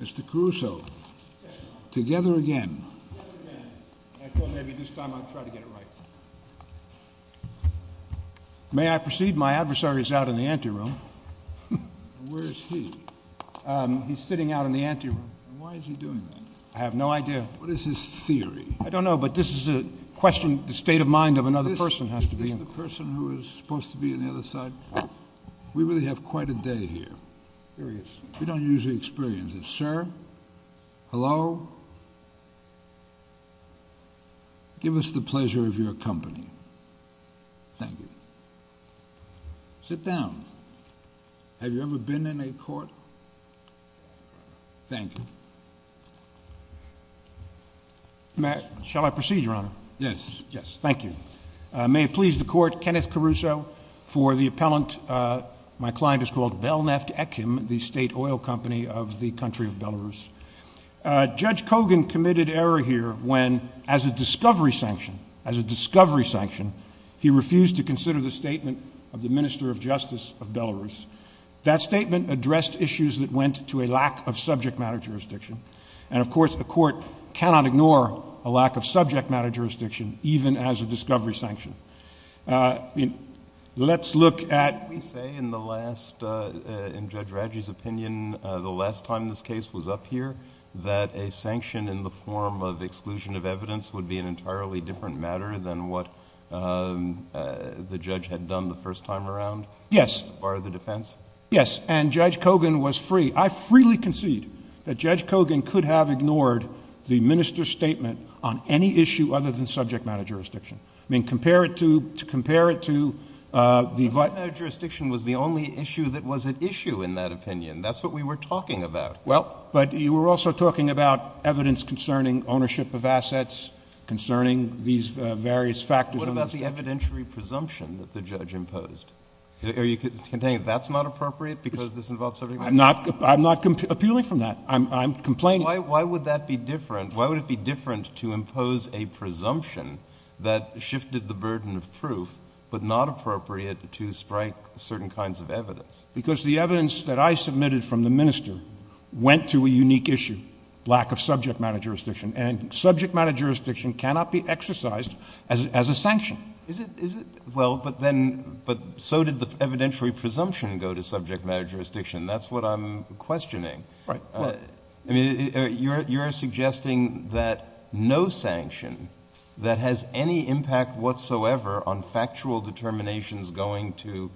Mr. Caruso, together again. I thought maybe this time I'd try to get it right. May I proceed? My adversary is out in the ante room. Where is he? He's sitting out in the ante room. Why is he doing that? I have no idea. What is his theory? I don't know, but this is a question of the state of mind of another person. Is this the person who is supposed to be on the other side? We really have quite a day here. Here he is. We don't usually experience this. Sir? Hello? Give us the pleasure of your company. Thank you. Sit down. Have you ever been in a court? Thank you. Shall I proceed, Your Honor? Yes. Yes, thank you. May it please the Court, Kenneth Caruso, for the appellant. My client is called Belneftekhim, the state oil company of the country of Belarus. Judge Kogan committed error here when, as a discovery sanction, as a discovery sanction, he refused to consider the statement of the Minister of Justice of Belarus. That statement addressed issues that went to a lack of subject matter jurisdiction. And, of course, the Court cannot ignore a lack of subject matter jurisdiction even as a discovery sanction. Let's look at... Didn't we say in the last, in Judge Radji's opinion, the last time this case was up here, that a sanction in the form of exclusion of evidence would be an entirely different matter than what the judge had done the first time around? Yes. As far as the defense? Yes. And Judge Kogan was free. I freely concede that Judge Kogan could have ignored the minister's statement on any issue other than subject matter jurisdiction. I mean, compare it to... compare it to the... Subject matter jurisdiction was the only issue that was at issue in that opinion. That's what we were talking about. Well, but you were also talking about evidence concerning ownership of assets, concerning these various factors... What about the evidentiary presumption that the judge imposed? I'm not appealing from that. I'm complaining. Why would that be different? Why would it be different to impose a presumption that shifted the burden of proof, but not appropriate to strike certain kinds of evidence? Because the evidence that I submitted from the minister went to a unique issue, lack of subject matter jurisdiction. And subject matter jurisdiction cannot be exercised as a sanction. Is it? Is it? Well, but then... but so did the evidentiary presumption go to subject matter jurisdiction. That's what I'm questioning. Right. I mean, you're suggesting that no sanction that has any impact whatsoever on factual determinations going to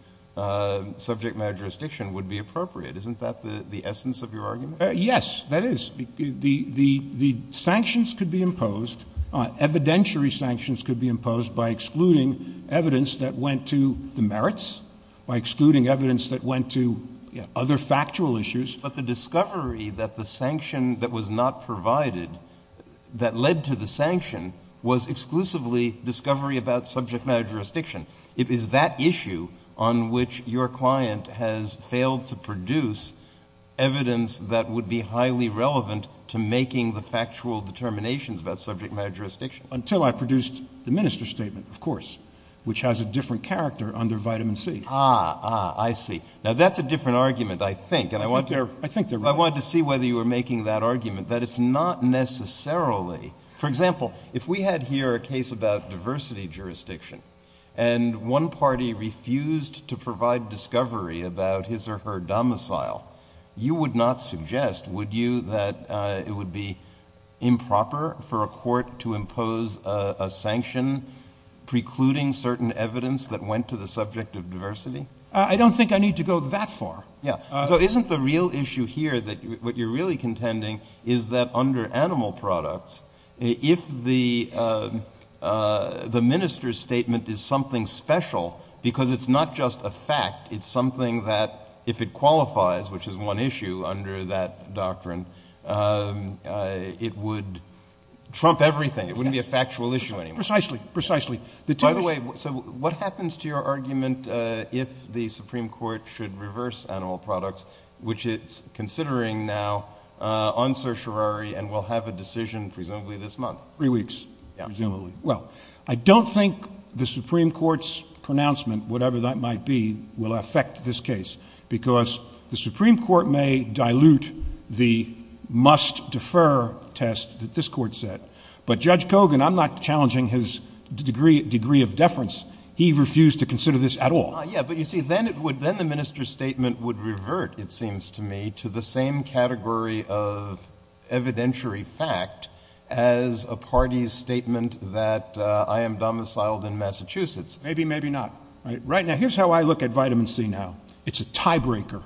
subject matter jurisdiction would be appropriate. Isn't that the essence of your argument? Yes, that is. The sanctions could be imposed. Evidentiary sanctions could be imposed by excluding evidence that went to the merits, by excluding evidence that went to other factual issues. But the discovery that the sanction that was not provided, that led to the sanction, was exclusively discovery about subject matter jurisdiction. It is that issue on which your client has failed to produce evidence that would be highly relevant to making the factual determinations about subject matter jurisdiction. Until I produced the minister's statement, of course, which has a different character under vitamin C. Ah, ah, I see. Now, that's a different argument, I think. I think they're right. I wanted to see whether you were making that argument, that it's not necessarily... When one party refused to provide discovery about his or her domicile, you would not suggest, would you, that it would be improper for a court to impose a sanction precluding certain evidence that went to the subject of diversity? I don't think I need to go that far. Yeah. Because it's not just a fact. It's something that, if it qualifies, which is one issue under that doctrine, it would trump everything. It wouldn't be a factual issue anymore. Precisely. Precisely. By the way, so what happens to your argument if the Supreme Court should reverse animal products, which it's considering now on certiorari and will have a decision presumably this month? Three weeks, presumably. Well, I don't think the Supreme Court's pronouncement, whatever that might be, will affect this case because the Supreme Court may dilute the must-defer test that this Court set. But Judge Kogan, I'm not challenging his degree of deference. He refused to consider this at all. Yeah, but you see, then the minister's statement would revert, it seems to me, to the same category of evidentiary fact as a party's statement that I am domiciled in Massachusetts. Maybe, maybe not. Right now, here's how I look at vitamin C now. It's a tiebreaker.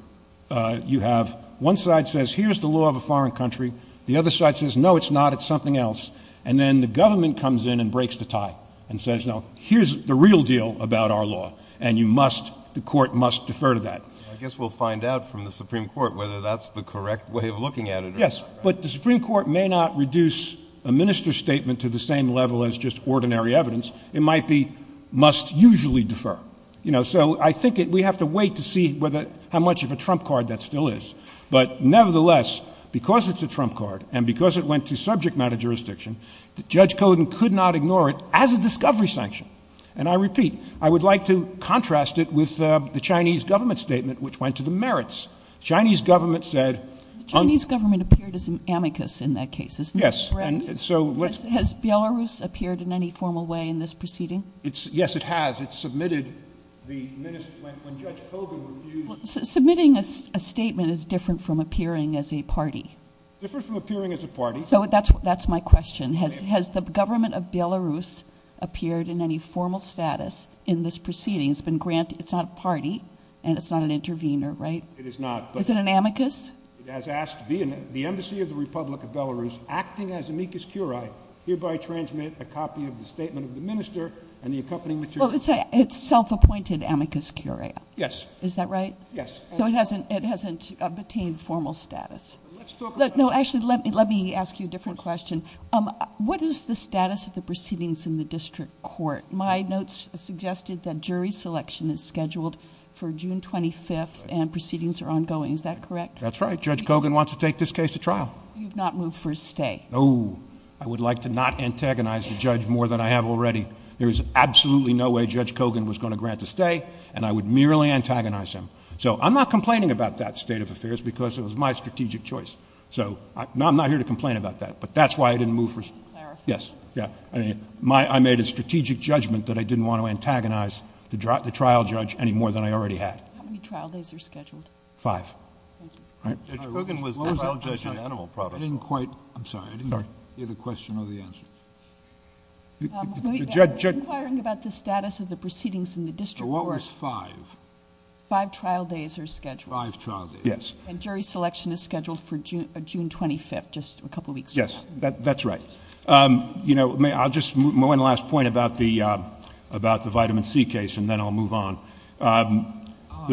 You have one side says, here's the law of a foreign country. The other side says, no, it's not. It's something else. And then the government comes in and breaks the tie and says, no, here's the real deal about our law, and the court must defer to that. I guess we'll find out from the Supreme Court whether that's the correct way of looking at it. Yes, but the Supreme Court may not reduce a minister's statement to the same level as just ordinary evidence. It might be must usually defer. So I think we have to wait to see how much of a trump card that still is. But nevertheless, because it's a trump card, and because it went to subject matter jurisdiction, Judge Kogan could not ignore it as a discovery sanction. And I repeat, I would like to contrast it with the Chinese government statement, which went to the merits. Chinese government said. The Chinese government appeared as an amicus in that case, isn't that correct? Yes, and so. Has Belarus appeared in any formal way in this proceeding? Yes, it has. It submitted the minister, when Judge Kogan refused. Submitting a statement is different from appearing as a party. Different from appearing as a party. So that's my question. Has the government of Belarus appeared in any formal status in this proceeding? It's not a party, and it's not an intervener, right? It is not. Is it an amicus? It has asked the embassy of the Republic of Belarus, acting as amicus curiae, hereby transmit a copy of the statement of the minister and the accompanying material. It's self-appointed amicus curiae. Yes. Is that right? Yes. So it hasn't obtained formal status. Let's talk about... No, actually, let me ask you a different question. What is the status of the proceedings in the district court? My notes suggested that jury selection is scheduled for June 25th, and proceedings are ongoing. Is that correct? That's right. Judge Kogan wants to take this case to trial. You've not moved for a stay? No. I would like to not antagonize the judge more than I have already. There is absolutely no way Judge Kogan was going to grant a stay, and I would merely antagonize him. So I'm not complaining about that state of affairs because it was my strategic choice. So I'm not here to complain about that. But that's why I didn't move for... To clarify. Yes. I made a strategic judgment that I didn't want to antagonize the trial judge any more than I already had. How many trial days are scheduled? Five. Judge Kogan was the trial judge in animal products. I didn't quite... I'm sorry. I didn't hear the question or the answer. The judge... I'm inquiring about the status of the proceedings in the district court. What was five? Five trial days are scheduled. Five trial days. Yes. And jury selection is scheduled for June 25th, just a couple weeks from now. Yes. That's right. You know, I'll just... one last point about the vitamin C case, and then I'll move on. I still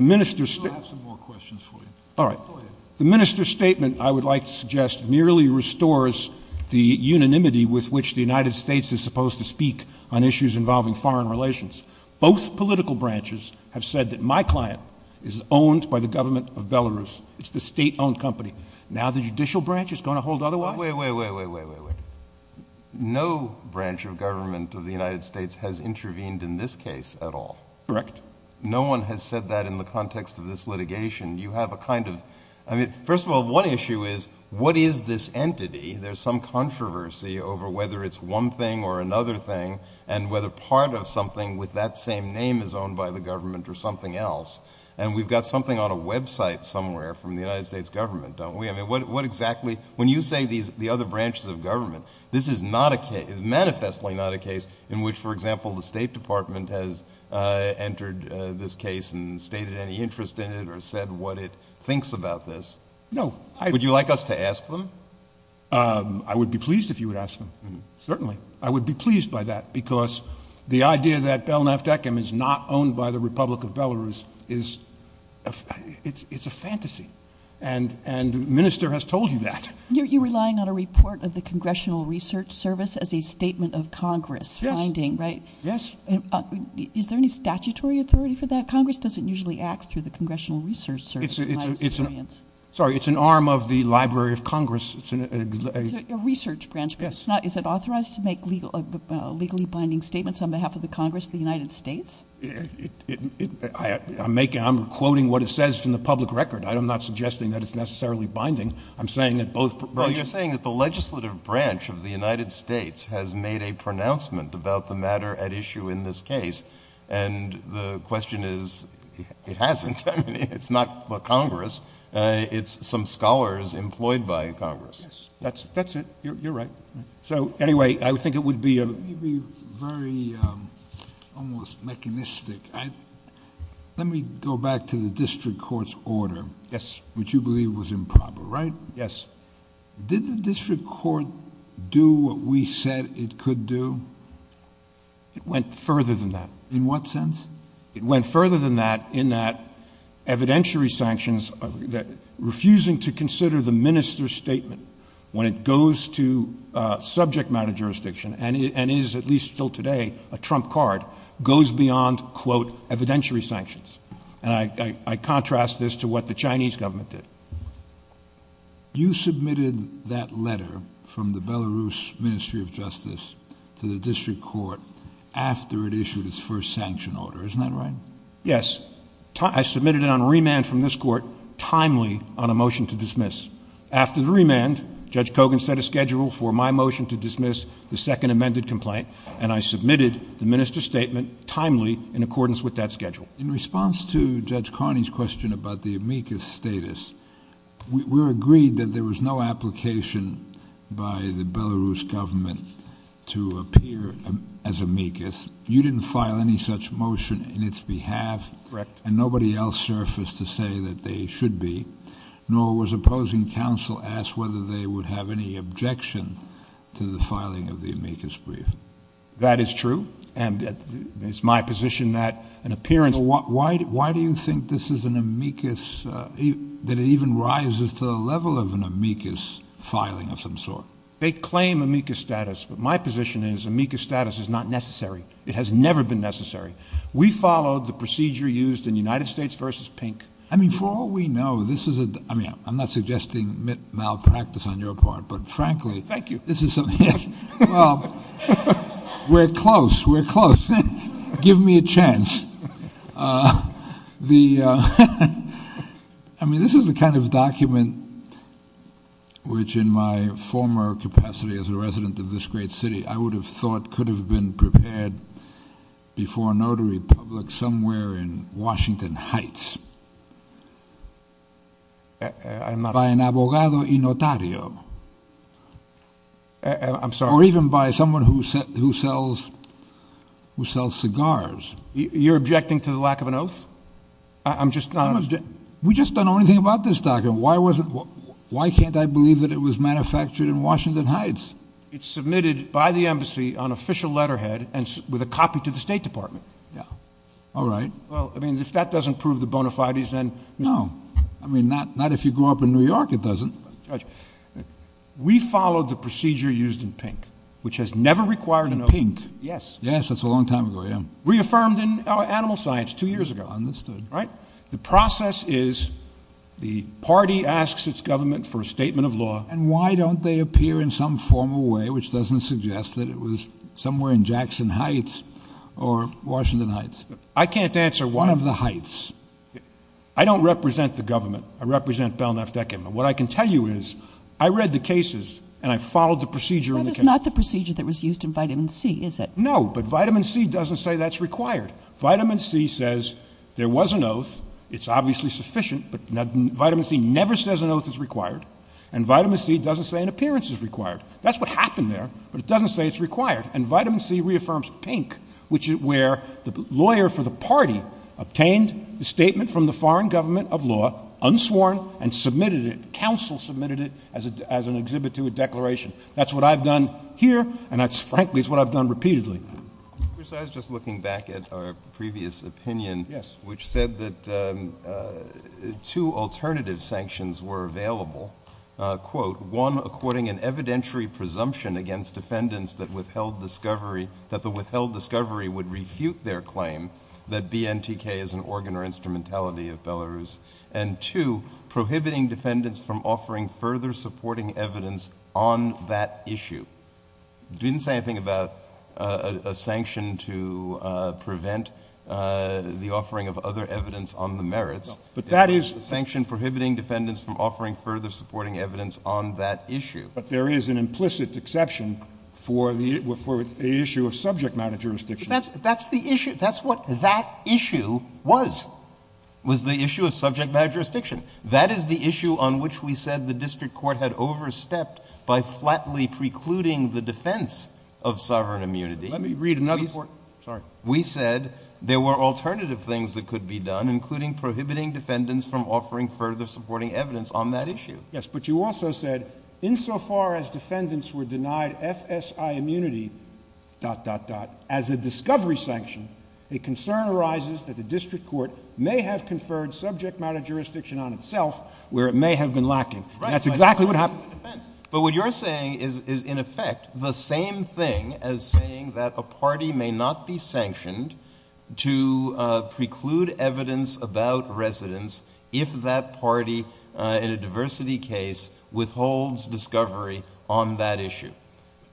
have some more questions for you. All right. Go ahead. The minister's statement, I would like to suggest, merely restores the unanimity with which the United States is supposed to speak on issues involving foreign relations. Both political branches have said that my client is owned by the government of Belarus. It's the state-owned company. Now the judicial branch is going to hold otherwise? Wait, wait, wait, wait, wait, wait, wait. No branch of government of the United States has intervened in this case at all. Correct. No one has said that in the context of this litigation. You have a kind of... I mean, first of all, one issue is what is this entity? There's some controversy over whether it's one thing or another thing, and whether part of something with that same name is owned by the government or something else. And we've got something on a website somewhere from the United States government, don't we? I mean, what exactly... when you say the other branches of government, this is not a case. It's manifestly not a case in which, for example, the State Department has entered this case and stated any interest in it or said what it thinks about this. No. Would you like us to ask them? I would be pleased if you would ask them. Certainly. I would be pleased by that because the idea that Belnaft Ekim is not owned by the Republic of Belarus is... it's a fantasy. And the minister has told you that. You're relying on a report of the Congressional Research Service as a statement of Congress. Yes. Binding, right? Yes. Is there any statutory authority for that? Congress doesn't usually act through the Congressional Research Service in my experience. Sorry, it's an arm of the Library of Congress. It's a research branch. Yes. Is it authorized to make legally binding statements on behalf of the Congress of the United States? I'm quoting what it says from the public record. I'm not suggesting that it's necessarily binding. I'm saying that both... Well, you're saying that the legislative branch of the United States has made a pronouncement about the matter at issue in this case. And the question is, it hasn't. I mean, it's not the Congress. It's some scholars employed by Congress. Yes. That's it. You're right. So, anyway, I think it would be... You'd be very almost mechanistic. Let me go back to the district court's order... Yes.... which you believe was improper, right? Yes. Did the district court do what we said it could do? It went further than that. In what sense? It went further than that in that evidentiary sanctions... refusing to consider the minister's statement when it goes to subject matter jurisdiction... and is, at least until today, a trump card... goes beyond, quote, evidentiary sanctions. And, I contrast this to what the Chinese government did. You submitted that letter from the Belarus Ministry of Justice to the district court after it issued its first sanction order. Isn't that right? Yes. I submitted it on remand from this court, timely, on a motion to dismiss. After the remand, Judge Kogan set a schedule for my motion to dismiss the second amended complaint... and I submitted the minister's statement, timely, in accordance with that schedule. In response to Judge Carney's question about the amicus status... we're agreed that there was no application by the Belarus government to appear as amicus. You didn't file any such motion in its behalf. Correct. And, nobody else surfaced to say that they should be. Nor was opposing counsel asked whether they would have any objection to the filing of the amicus brief. That is true. And, it's my position that an appearance... Why do you think this is an amicus... that it even rises to the level of an amicus filing of some sort? They claim amicus status, but my position is amicus status is not necessary. It has never been necessary. We followed the procedure used in United States v. Pink. I mean, for all we know, this is a... I mean, I'm not suggesting malpractice on your part, but frankly... Thank you. This is... We're close. We're close. Give me a chance. The... I mean, this is the kind of document which in my former capacity as a resident of this great city... I would have thought could have been prepared before a notary public somewhere in Washington Heights... I'm not... I'm sorry. Or, even by someone who sells cigars. You're objecting to the lack of an oath? I'm just not... We just don't know anything about this document. Why can't I believe that it was manufactured in Washington Heights? It's submitted by the Embassy on official letterhead and with a copy to the State Department. Yeah. All right. Well, I mean, if that doesn't prove the bona fides, then... No. I mean, not if you grew up in New York, it doesn't. Judge, we followed the procedure used in Pink, which has never required an oath. Pink? Yes. Yes. That's a long time ago. Yeah. Reaffirmed in Animal Science two years ago. Understood. Right? The process is the party asks its government for a statement of law... And why don't they appear in some formal way, which doesn't suggest that it was somewhere in Jackson Heights or Washington Heights? I can't answer why... One of the Heights. One of the Heights. I don't represent the government. I represent Belknap Deckeman. What I can tell you is, I read the cases and I followed the procedure in the cases. That is not the procedure that was used in Vitamin C, is it? No. But Vitamin C doesn't say that's required. Vitamin C says there was an oath. It's obviously sufficient. But Vitamin C never says an oath is required. And Vitamin C doesn't say an appearance is required. That's what happened there, but it doesn't say it's required. And Vitamin C reaffirms Pink, which is where the lawyer for the party obtained the statement from the foreign government of law, unsworn, and submitted it. Counsel submitted it as an exhibit to a declaration. That's what I've done here, and that's frankly what I've done repeatedly. Bruce, I was just looking back at our previous opinion... Yes.... which said that two alternative sanctions were available. One, according an evidentiary presumption against defendants that the withheld discovery would refute their claim that BNTK is an organ or instrumentality of Belarus. And two, prohibiting defendants from offering further supporting evidence on that issue. It didn't say anything about a sanction to prevent the offering of other evidence on the merits. But that is... But there is an implicit exception for the issue of subject matter jurisdiction. That's the issue. That's what that issue was, was the issue of subject matter jurisdiction. That is the issue on which we said the district court had overstepped by flatly precluding the defense of sovereign immunity. Let me read another part. Sorry. We said there were alternative things that could be done, including prohibiting defendants from offering further supporting evidence on that issue. Yes. But you also said, insofar as defendants were denied FSI immunity... as a discovery sanction, a concern arises that the district court may have conferred subject matter jurisdiction on itself, where it may have been lacking. Right. And that's exactly what happened with the defense. But what you're saying is, in effect, the same thing as saying that a party may not be sanctioned to preclude evidence about residents if that party, in a diversity case, withholds discovery on that issue.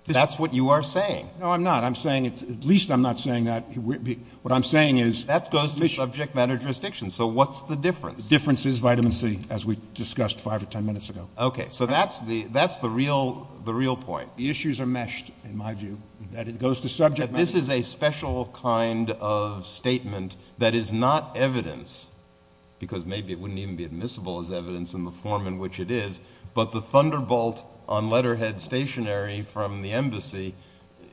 That's what you are saying. No, I'm not. At least I'm not saying that. What I'm saying is... That goes to subject matter jurisdiction. So what's the difference? The difference is vitamin C, as we discussed five or ten minutes ago. Okay. So that's the real point. The issues are meshed, in my view. That it goes to subject matter... This is a special kind of statement that is not evidence, because maybe it wouldn't even be admissible as evidence in the form in which it is. But the thunderbolt on letterhead stationary from the embassy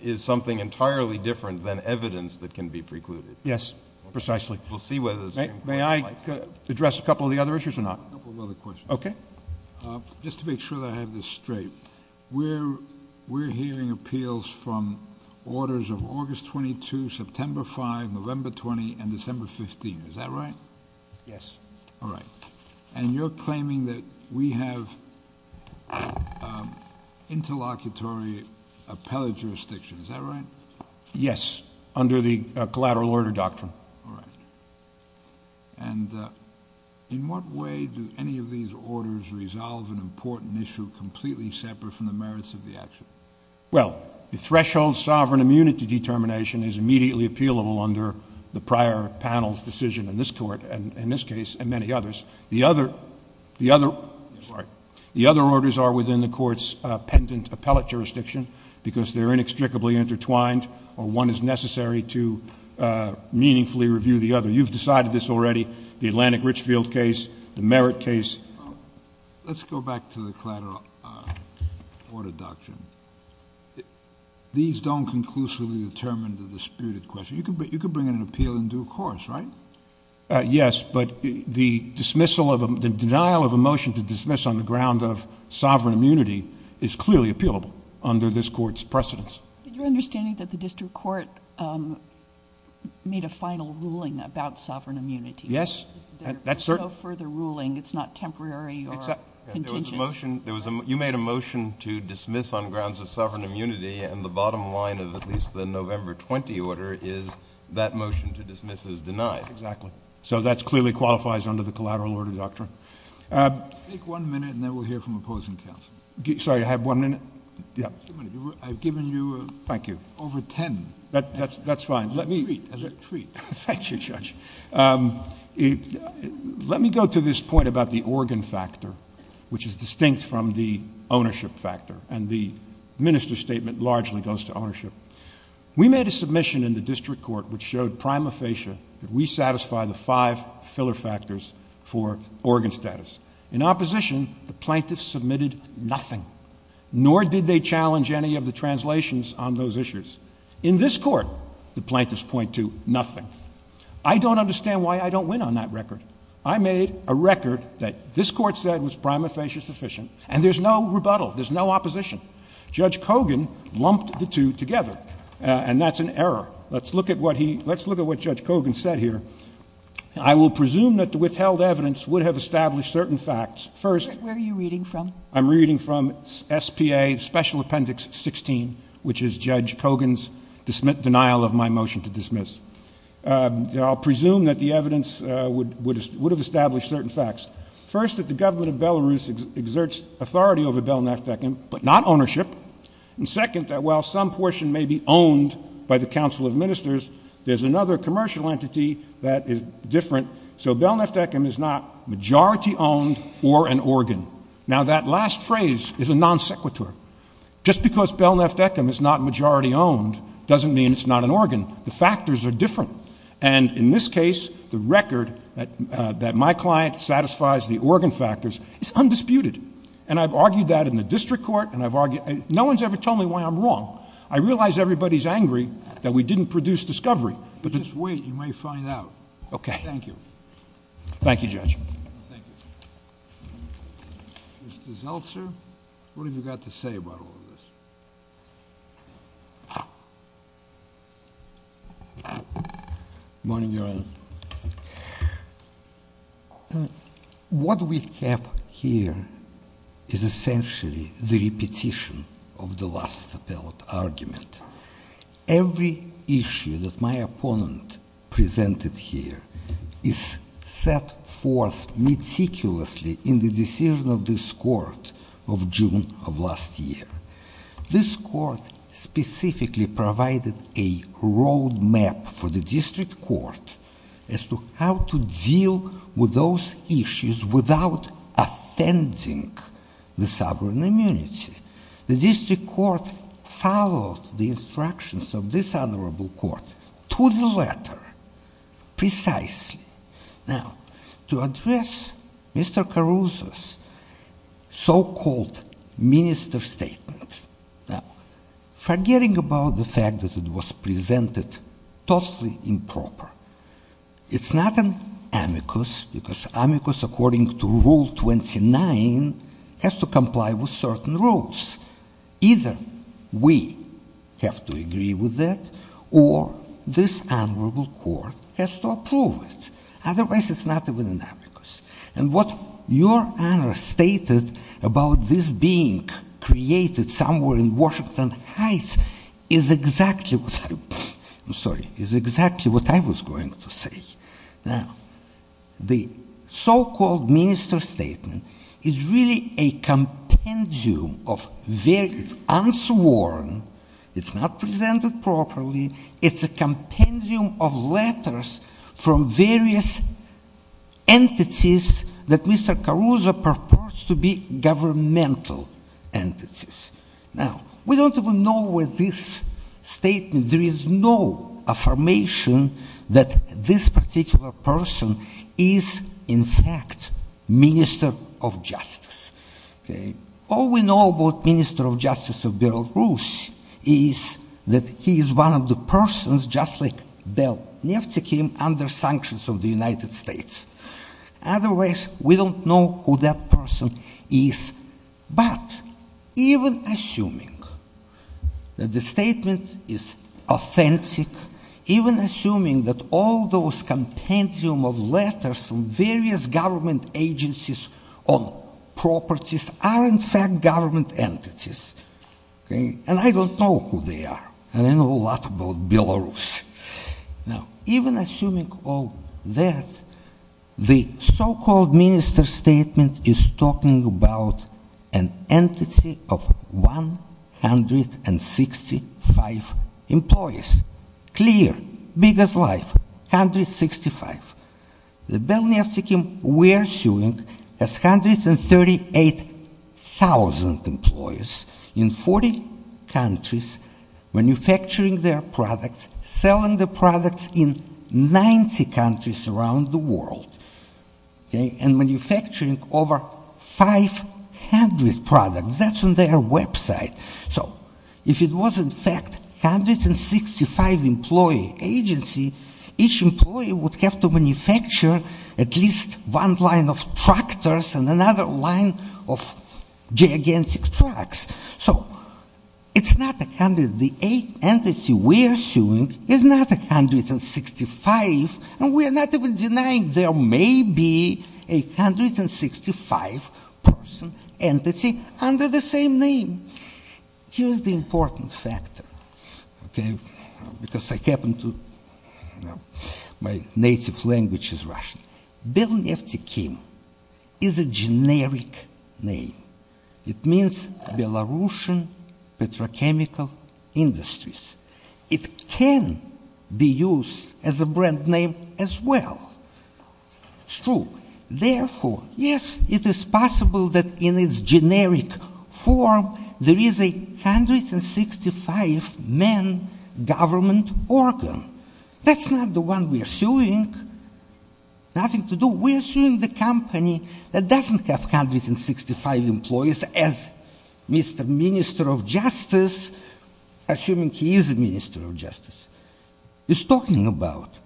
is something entirely different than evidence that can be precluded. Yes, precisely. We'll see whether the Supreme Court... May I address a couple of the other issues or not? A couple of other questions. Okay. Just to make sure that I have this straight. We're hearing appeals from orders of August 22, September 5, November 20, and December 15. Is that right? Yes. All right. And you're claiming that we have interlocutory appellate jurisdiction. Is that right? Yes, under the collateral order doctrine. All right. And in what way do any of these orders resolve an important issue completely separate from the merits of the action? Well, the threshold sovereign immunity determination is immediately appealable under the prior panel's decision in this court, and in this case, and many others. The other... I'm sorry. You've decided this already, the Atlantic Richfield case, the merit case. Let's go back to the collateral order doctrine. These don't conclusively determine the disputed question. You could bring in an appeal and do a course, right? Yes, but the denial of a motion to dismiss on the ground of sovereign immunity is clearly appealable under this court's precedence. Did you understand that the district court made a final ruling about sovereign immunity? Yes. There's no further ruling. It's not temporary or contingent. You made a motion to dismiss on grounds of sovereign immunity, and the bottom line of at least the November 20 order is that motion to dismiss is denied. Exactly. So that clearly qualifies under the collateral order doctrine. Take one minute, and then we'll hear from opposing counsel. Sorry. I have one minute? Yeah. I've given you over ten. That's fine. Treat. Treat. Thank you, Judge. Let me go to this point about the organ factor, which is distinct from the ownership factor, and the minister's statement largely goes to ownership. We made a submission in the district court which showed prima facie that we satisfy the five filler factors for organ status. In opposition, the plaintiffs submitted nothing, nor did they challenge any of the translations on those issues. In this court, the plaintiffs point to nothing. I don't understand why I don't win on that record. I made a record that this court said was prima facie sufficient, and there's no rebuttal. There's no opposition. Judge Kogan lumped the two together, and that's an error. Let's look at what Judge Kogan said here. I will presume that the withheld evidence would have established certain facts. Where are you reading from? I'm reading from S.P.A. Special Appendix 16, which is Judge Kogan's denial of my motion to dismiss. I'll presume that the evidence would have established certain facts. First, that the government of Belarus exerts authority over Belnaftek, but not ownership. And second, that while some portion may be owned by the Council of Ministers, there's another commercial entity that is different. So Belnaftek is not majority-owned or an organ. Now, that last phrase is a non sequitur. Just because Belnaftek is not majority-owned doesn't mean it's not an organ. The factors are different. And in this case, the record that my client satisfies the organ factors is undisputed. And I've argued that in the district court. No one's ever told me why I'm wrong. I realize everybody's angry that we didn't produce discovery. Just wait. You may find out. Okay. Thank you. Thank you, Judge. Thank you. Mr. Zeltser, what have you got to say about all of this? Good morning, Your Honor. What we have here is essentially the repetition of the last appellate argument. Every issue that my opponent presented here is set forth meticulously in the decision of this court of June of last year. This court specifically provided a roadmap for the district court as to how to deal with those issues without offending the sovereign immunity. The district court followed the instructions of this honorable court to the letter precisely. Now, to address Mr. Caruso's so-called minister statement, forgetting about the fact that it was presented totally improper, it's not an amicus because amicus, according to Rule 29, has to comply with certain rules. Either we have to agree with that or this honorable court has to approve it. Otherwise, it's not even an amicus. And what Your Honor stated about this being created somewhere in Washington Heights is exactly what I was going to say. Now, the so-called minister statement is really a compendium of unsworn, it's not presented properly, it's a compendium of letters from various entities that Mr. Caruso purports to be governmental entities. Now, we don't even know where this statement, there is no affirmation that this particular person is, in fact, minister of justice. All we know about minister of justice of Beryl Bruce is that he is one of the persons just like Bill Nifty came under sanctions of the United States. Otherwise, we don't know who that person is. But, even assuming that the statement is authentic, even assuming that all those compendium of letters from various government agencies on properties are in fact government entities, and I don't know who they are, and I know a lot about Belarus. Now, even assuming all that, the so-called minister statement is talking about an entity of 165 employees. Clear, big as life, 165. The Bill Nifty we are suing has 138,000 employees in 40 countries manufacturing their products, selling the products in 90 countries around the world, and manufacturing over 500 products, that's on their website. So, if it was in fact 165 employee agency, each employee would have to manufacture at least one line of tractors and another line of gigantic trucks. So, it's not the entity we are suing is not 165, and we are not even denying there may be a 165 person entity under the same name. Here's the important factor, okay, because I happen to, my native language is Russian. Bill Nifty Kim is a generic name. It means Belarusian petrochemical industries. It can be used as a brand name as well. It's true. Therefore, yes, it is possible that in its generic form there is a 165 men government organ. That's not the one we are suing. Nothing to do. We are suing the company that doesn't have 165 employees as Mr. Minister of Justice, assuming he is a Minister of Justice, is talking about.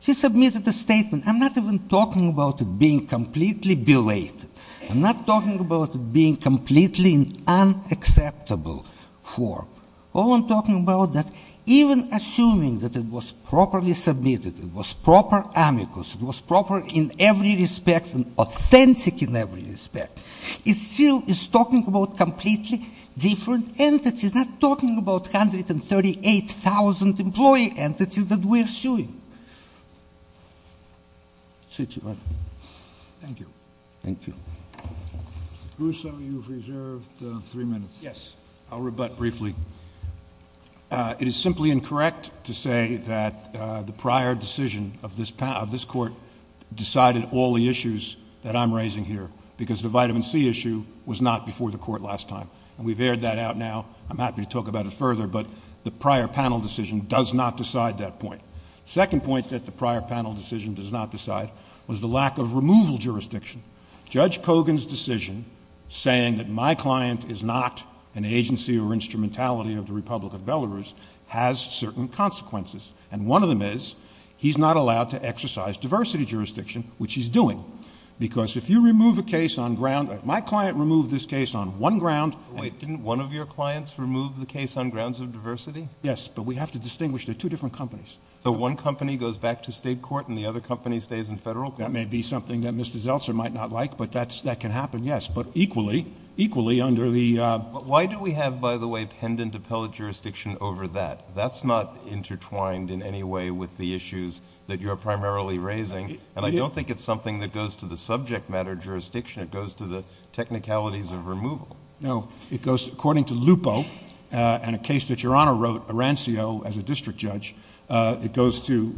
He submitted a statement. I'm not even talking about it being completely belated. I'm not talking about it being completely unacceptable for. All I'm talking about is that even assuming that it was properly submitted, it was proper amicus, it was proper in every respect and authentic in every respect, it still is talking about completely different entities, not talking about 138,000 employee entities that we are suing. Thank you. Thank you. Russo, you've reserved three minutes. Yes. I'll rebut briefly. It is simply incorrect to say that the prior decision of this court decided all the issues that I'm raising here because the vitamin C issue was not before the court last time. We've aired that out now. I'm happy to talk about it further, but the prior panel decision does not decide that point. The second point that the prior panel decision does not decide was the lack of removal jurisdiction. Judge Kogan's decision saying that my client is not an agency or instrumentality of the Republic of Belarus has certain consequences. And one of them is he's not allowed to exercise diversity jurisdiction, which he's doing. Because if you remove a case on ground, my client removed this case on one ground. Wait, didn't one of your clients remove the case on grounds of diversity? Yes, but we have to distinguish they're two different companies. So one company goes back to state court and the other company stays in federal court? That may be something that Mr. Zeltser might not like, but that can happen, yes. But equally, equally under the... Why do we have, by the way, pendent appellate jurisdiction over that? That's not intertwined in any way with the issues that you're primarily raising. And I don't think it's something that goes to the subject matter jurisdiction. It goes to the technicalities of removal. No. It goes, according to Lupo, and a case that Your Honor wrote, Arancio, as a district judge, it goes to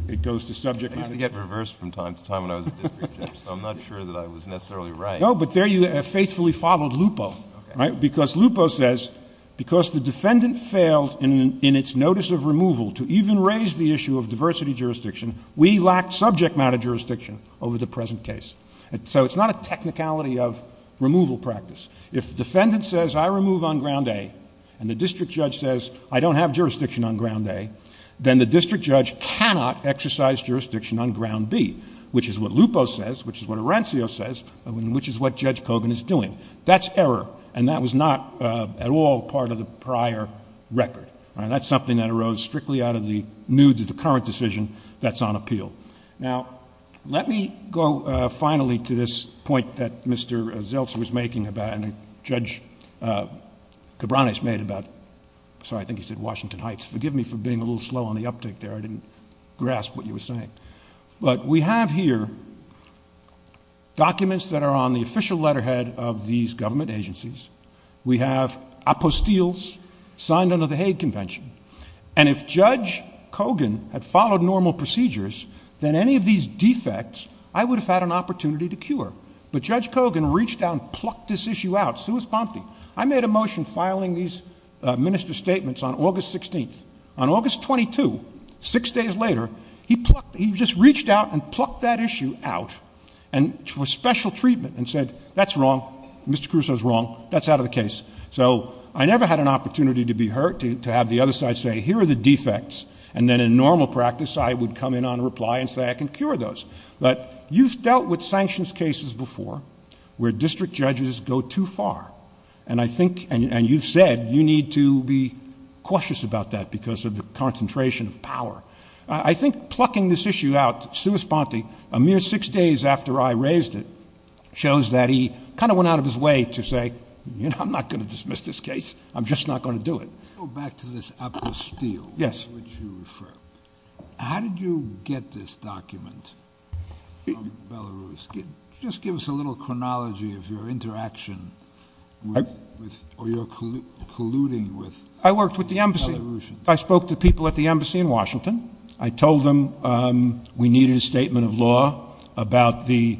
subject matter... I used to get reversed from time to time when I was a district judge, so I'm not sure that I was necessarily right. No, but there you have faithfully followed Lupo. Because Lupo says, because the defendant failed in its notice of removal to even raise the issue of diversity jurisdiction, we lack subject matter jurisdiction over the present case. So it's not a technicality of removal practice. If the defendant says, I remove on ground A, and the district judge says, I don't have jurisdiction on ground A, then the district judge cannot exercise jurisdiction on ground B, which is what Lupo says, which is what Arancio says, and which is what Judge Kogan is doing. That's error. And that was not at all part of the prior record. All right. That's something that arose strictly out of the nudes of the current decision that's on appeal. Now, let me go finally to this point that Mr. Zeltser was making about... I didn't grasp what you were saying. But we have here documents that are on the official letterhead of these government agencies. We have apostilles signed under the Hague Convention. And if Judge Kogan had followed normal procedures, then any of these defects, I would have had an opportunity to cure. But Judge Kogan reached out and plucked this issue out. Suus pompti. I made a motion filing these minister statements on August 16th. On August 22, six days later, he just reached out and plucked that issue out for special treatment and said, that's wrong. Mr. Crusoe is wrong. That's out of the case. So, I never had an opportunity to be hurt, to have the other side say, here are the defects. And then in normal practice, I would come in on reply and say, I can cure those. But you've dealt with sanctions cases before where district judges go too far. And I think, and you've said, you need to be cautious about that because of the concentration of power. I think plucking this issue out, suus pompti, a mere six days after I raised it, shows that he kind of went out of his way to say, you know, I'm not going to dismiss this case. I'm just not going to do it. Let's go back to this apostille. Yes. How did you get this document from Belarus? Just give us a little chronology of your interaction or your colluding with Belarusians. I worked with the embassy. I spoke to people at the embassy in Washington. I told them we needed a statement of law about the,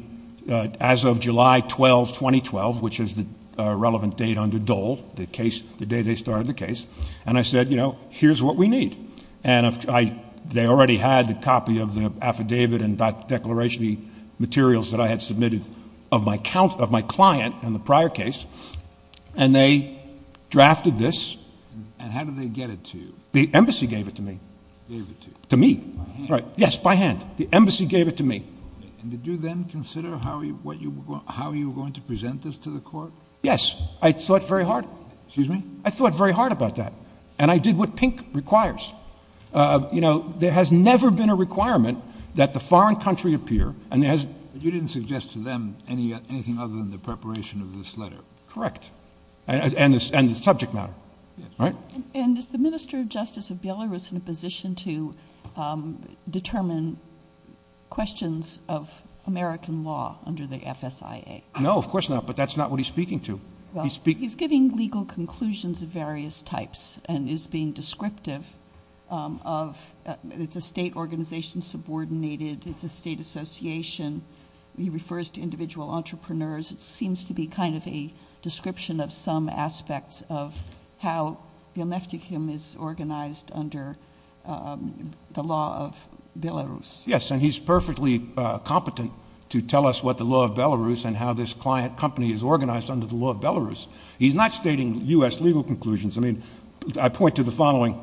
as of July 12, 2012, which is the relevant date under Dole, the case, the day they started the case. And I said, you know, here's what we need. And they already had a copy of the affidavit and declaration materials that I had submitted of my client in the prior case. And they drafted this. And how did they get it to you? The embassy gave it to me. Gave it to you? To me. By hand? Yes, by hand. The embassy gave it to me. And did you then consider how you were going to present this to the court? Yes. I thought very hard. Excuse me? I thought very hard about that. And I did what Pink requires. You know, there has never been a requirement that the foreign country appear. But you didn't suggest to them anything other than the preparation of this letter? Correct. And the subject matter. And is the Minister of Justice of Belarus in a position to determine questions of American law under the FSIA? No, of course not. But that's not what he's speaking to. Well, he's giving legal conclusions of various types and is being descriptive of it's a state organization subordinated. It's a state association. He refers to individual entrepreneurs. It seems to be kind of a description of some aspects of how Beel Neftekim is organized under the law of Belarus. Yes, and he's perfectly competent to tell us what the law of Belarus and how this client company is organized under the law of Belarus. He's not stating U.S. legal conclusions. I mean, I point to the following.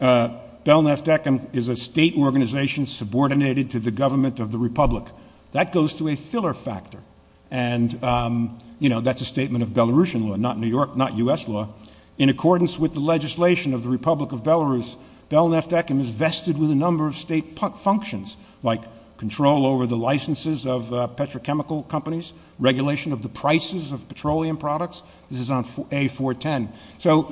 Beel Neftekim is a state organization subordinated to the government of the republic. That goes to a filler factor. And, you know, that's a statement of Belarusian law, not U.S. law. In accordance with the legislation of the Republic of Belarus, Beel Neftekim is vested with a number of state functions, like control over the licenses of petrochemical companies, regulation of the prices of petroleum products. This is on A410.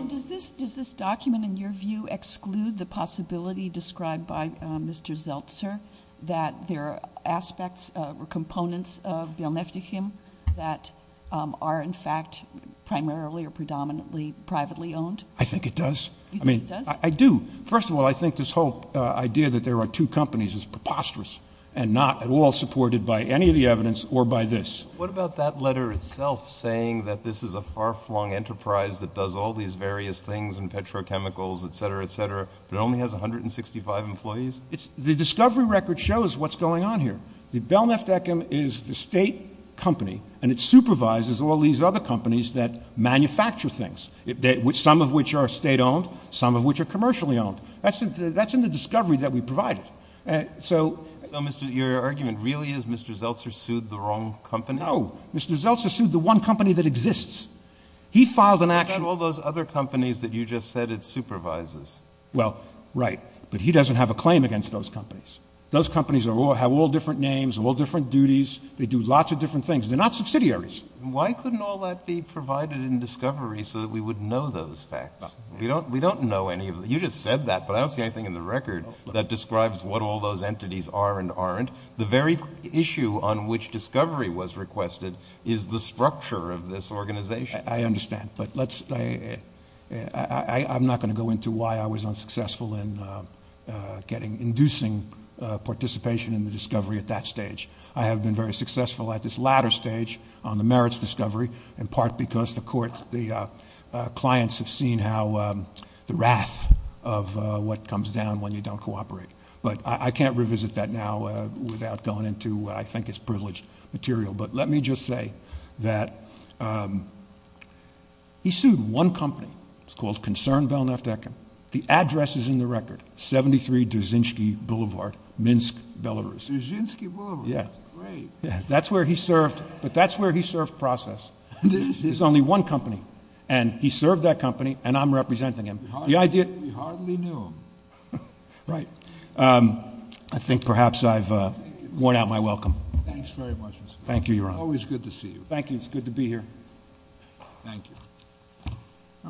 Does this document, in your view, exclude the possibility described by Mr. Zeltser that there are aspects or components of Beel Neftekim that are, in fact, primarily or predominantly privately owned? I think it does. You think it does? I do. First of all, I think this whole idea that there are two companies is preposterous and not at all supported by any of the evidence or by this. What about that letter itself saying that this is a far-flung enterprise that does all these various things in petrochemicals, et cetera, et cetera, but only has 165 employees? The discovery record shows what's going on here. Beel Neftekim is the state company, and it supervises all these other companies that manufacture things, some of which are state-owned, some of which are commercially owned. That's in the discovery that we provided. So your argument really is Mr. Zeltser sued the wrong company? No. Mr. Zeltser sued the one company that exists. He filed an action. What about all those other companies that you just said it supervises? Well, right, but he doesn't have a claim against those companies. Those companies have all different names and all different duties. They do lots of different things. They're not subsidiaries. Why couldn't all that be provided in discovery so that we would know those facts? You just said that, but I don't see anything in the record that describes what all those entities are and aren't. The very issue on which discovery was requested is the structure of this organization. I understand, but I'm not going to go into why I was unsuccessful in inducing participation in the discovery at that stage. I have been very successful at this latter stage on the merits discovery, in part because the clients have seen the wrath of what comes down when you don't cooperate. But I can't revisit that now without going into what I think is privileged material. But let me just say that he sued one company. It's called Concern Belknap-Decken. The address is in the record, 73 Dzerzhinsky Boulevard, Minsk, Belarus. Dzerzhinsky Boulevard. That's great. That's where he served, but that's where he served process. There's only one company, and he served that company, and I'm representing him. We hardly knew him. Right. I think perhaps I've worn out my welcome. Thanks very much, Mr. President. Thank you, Your Honor. Always good to see you. Thank you. It's good to be here. Thank you.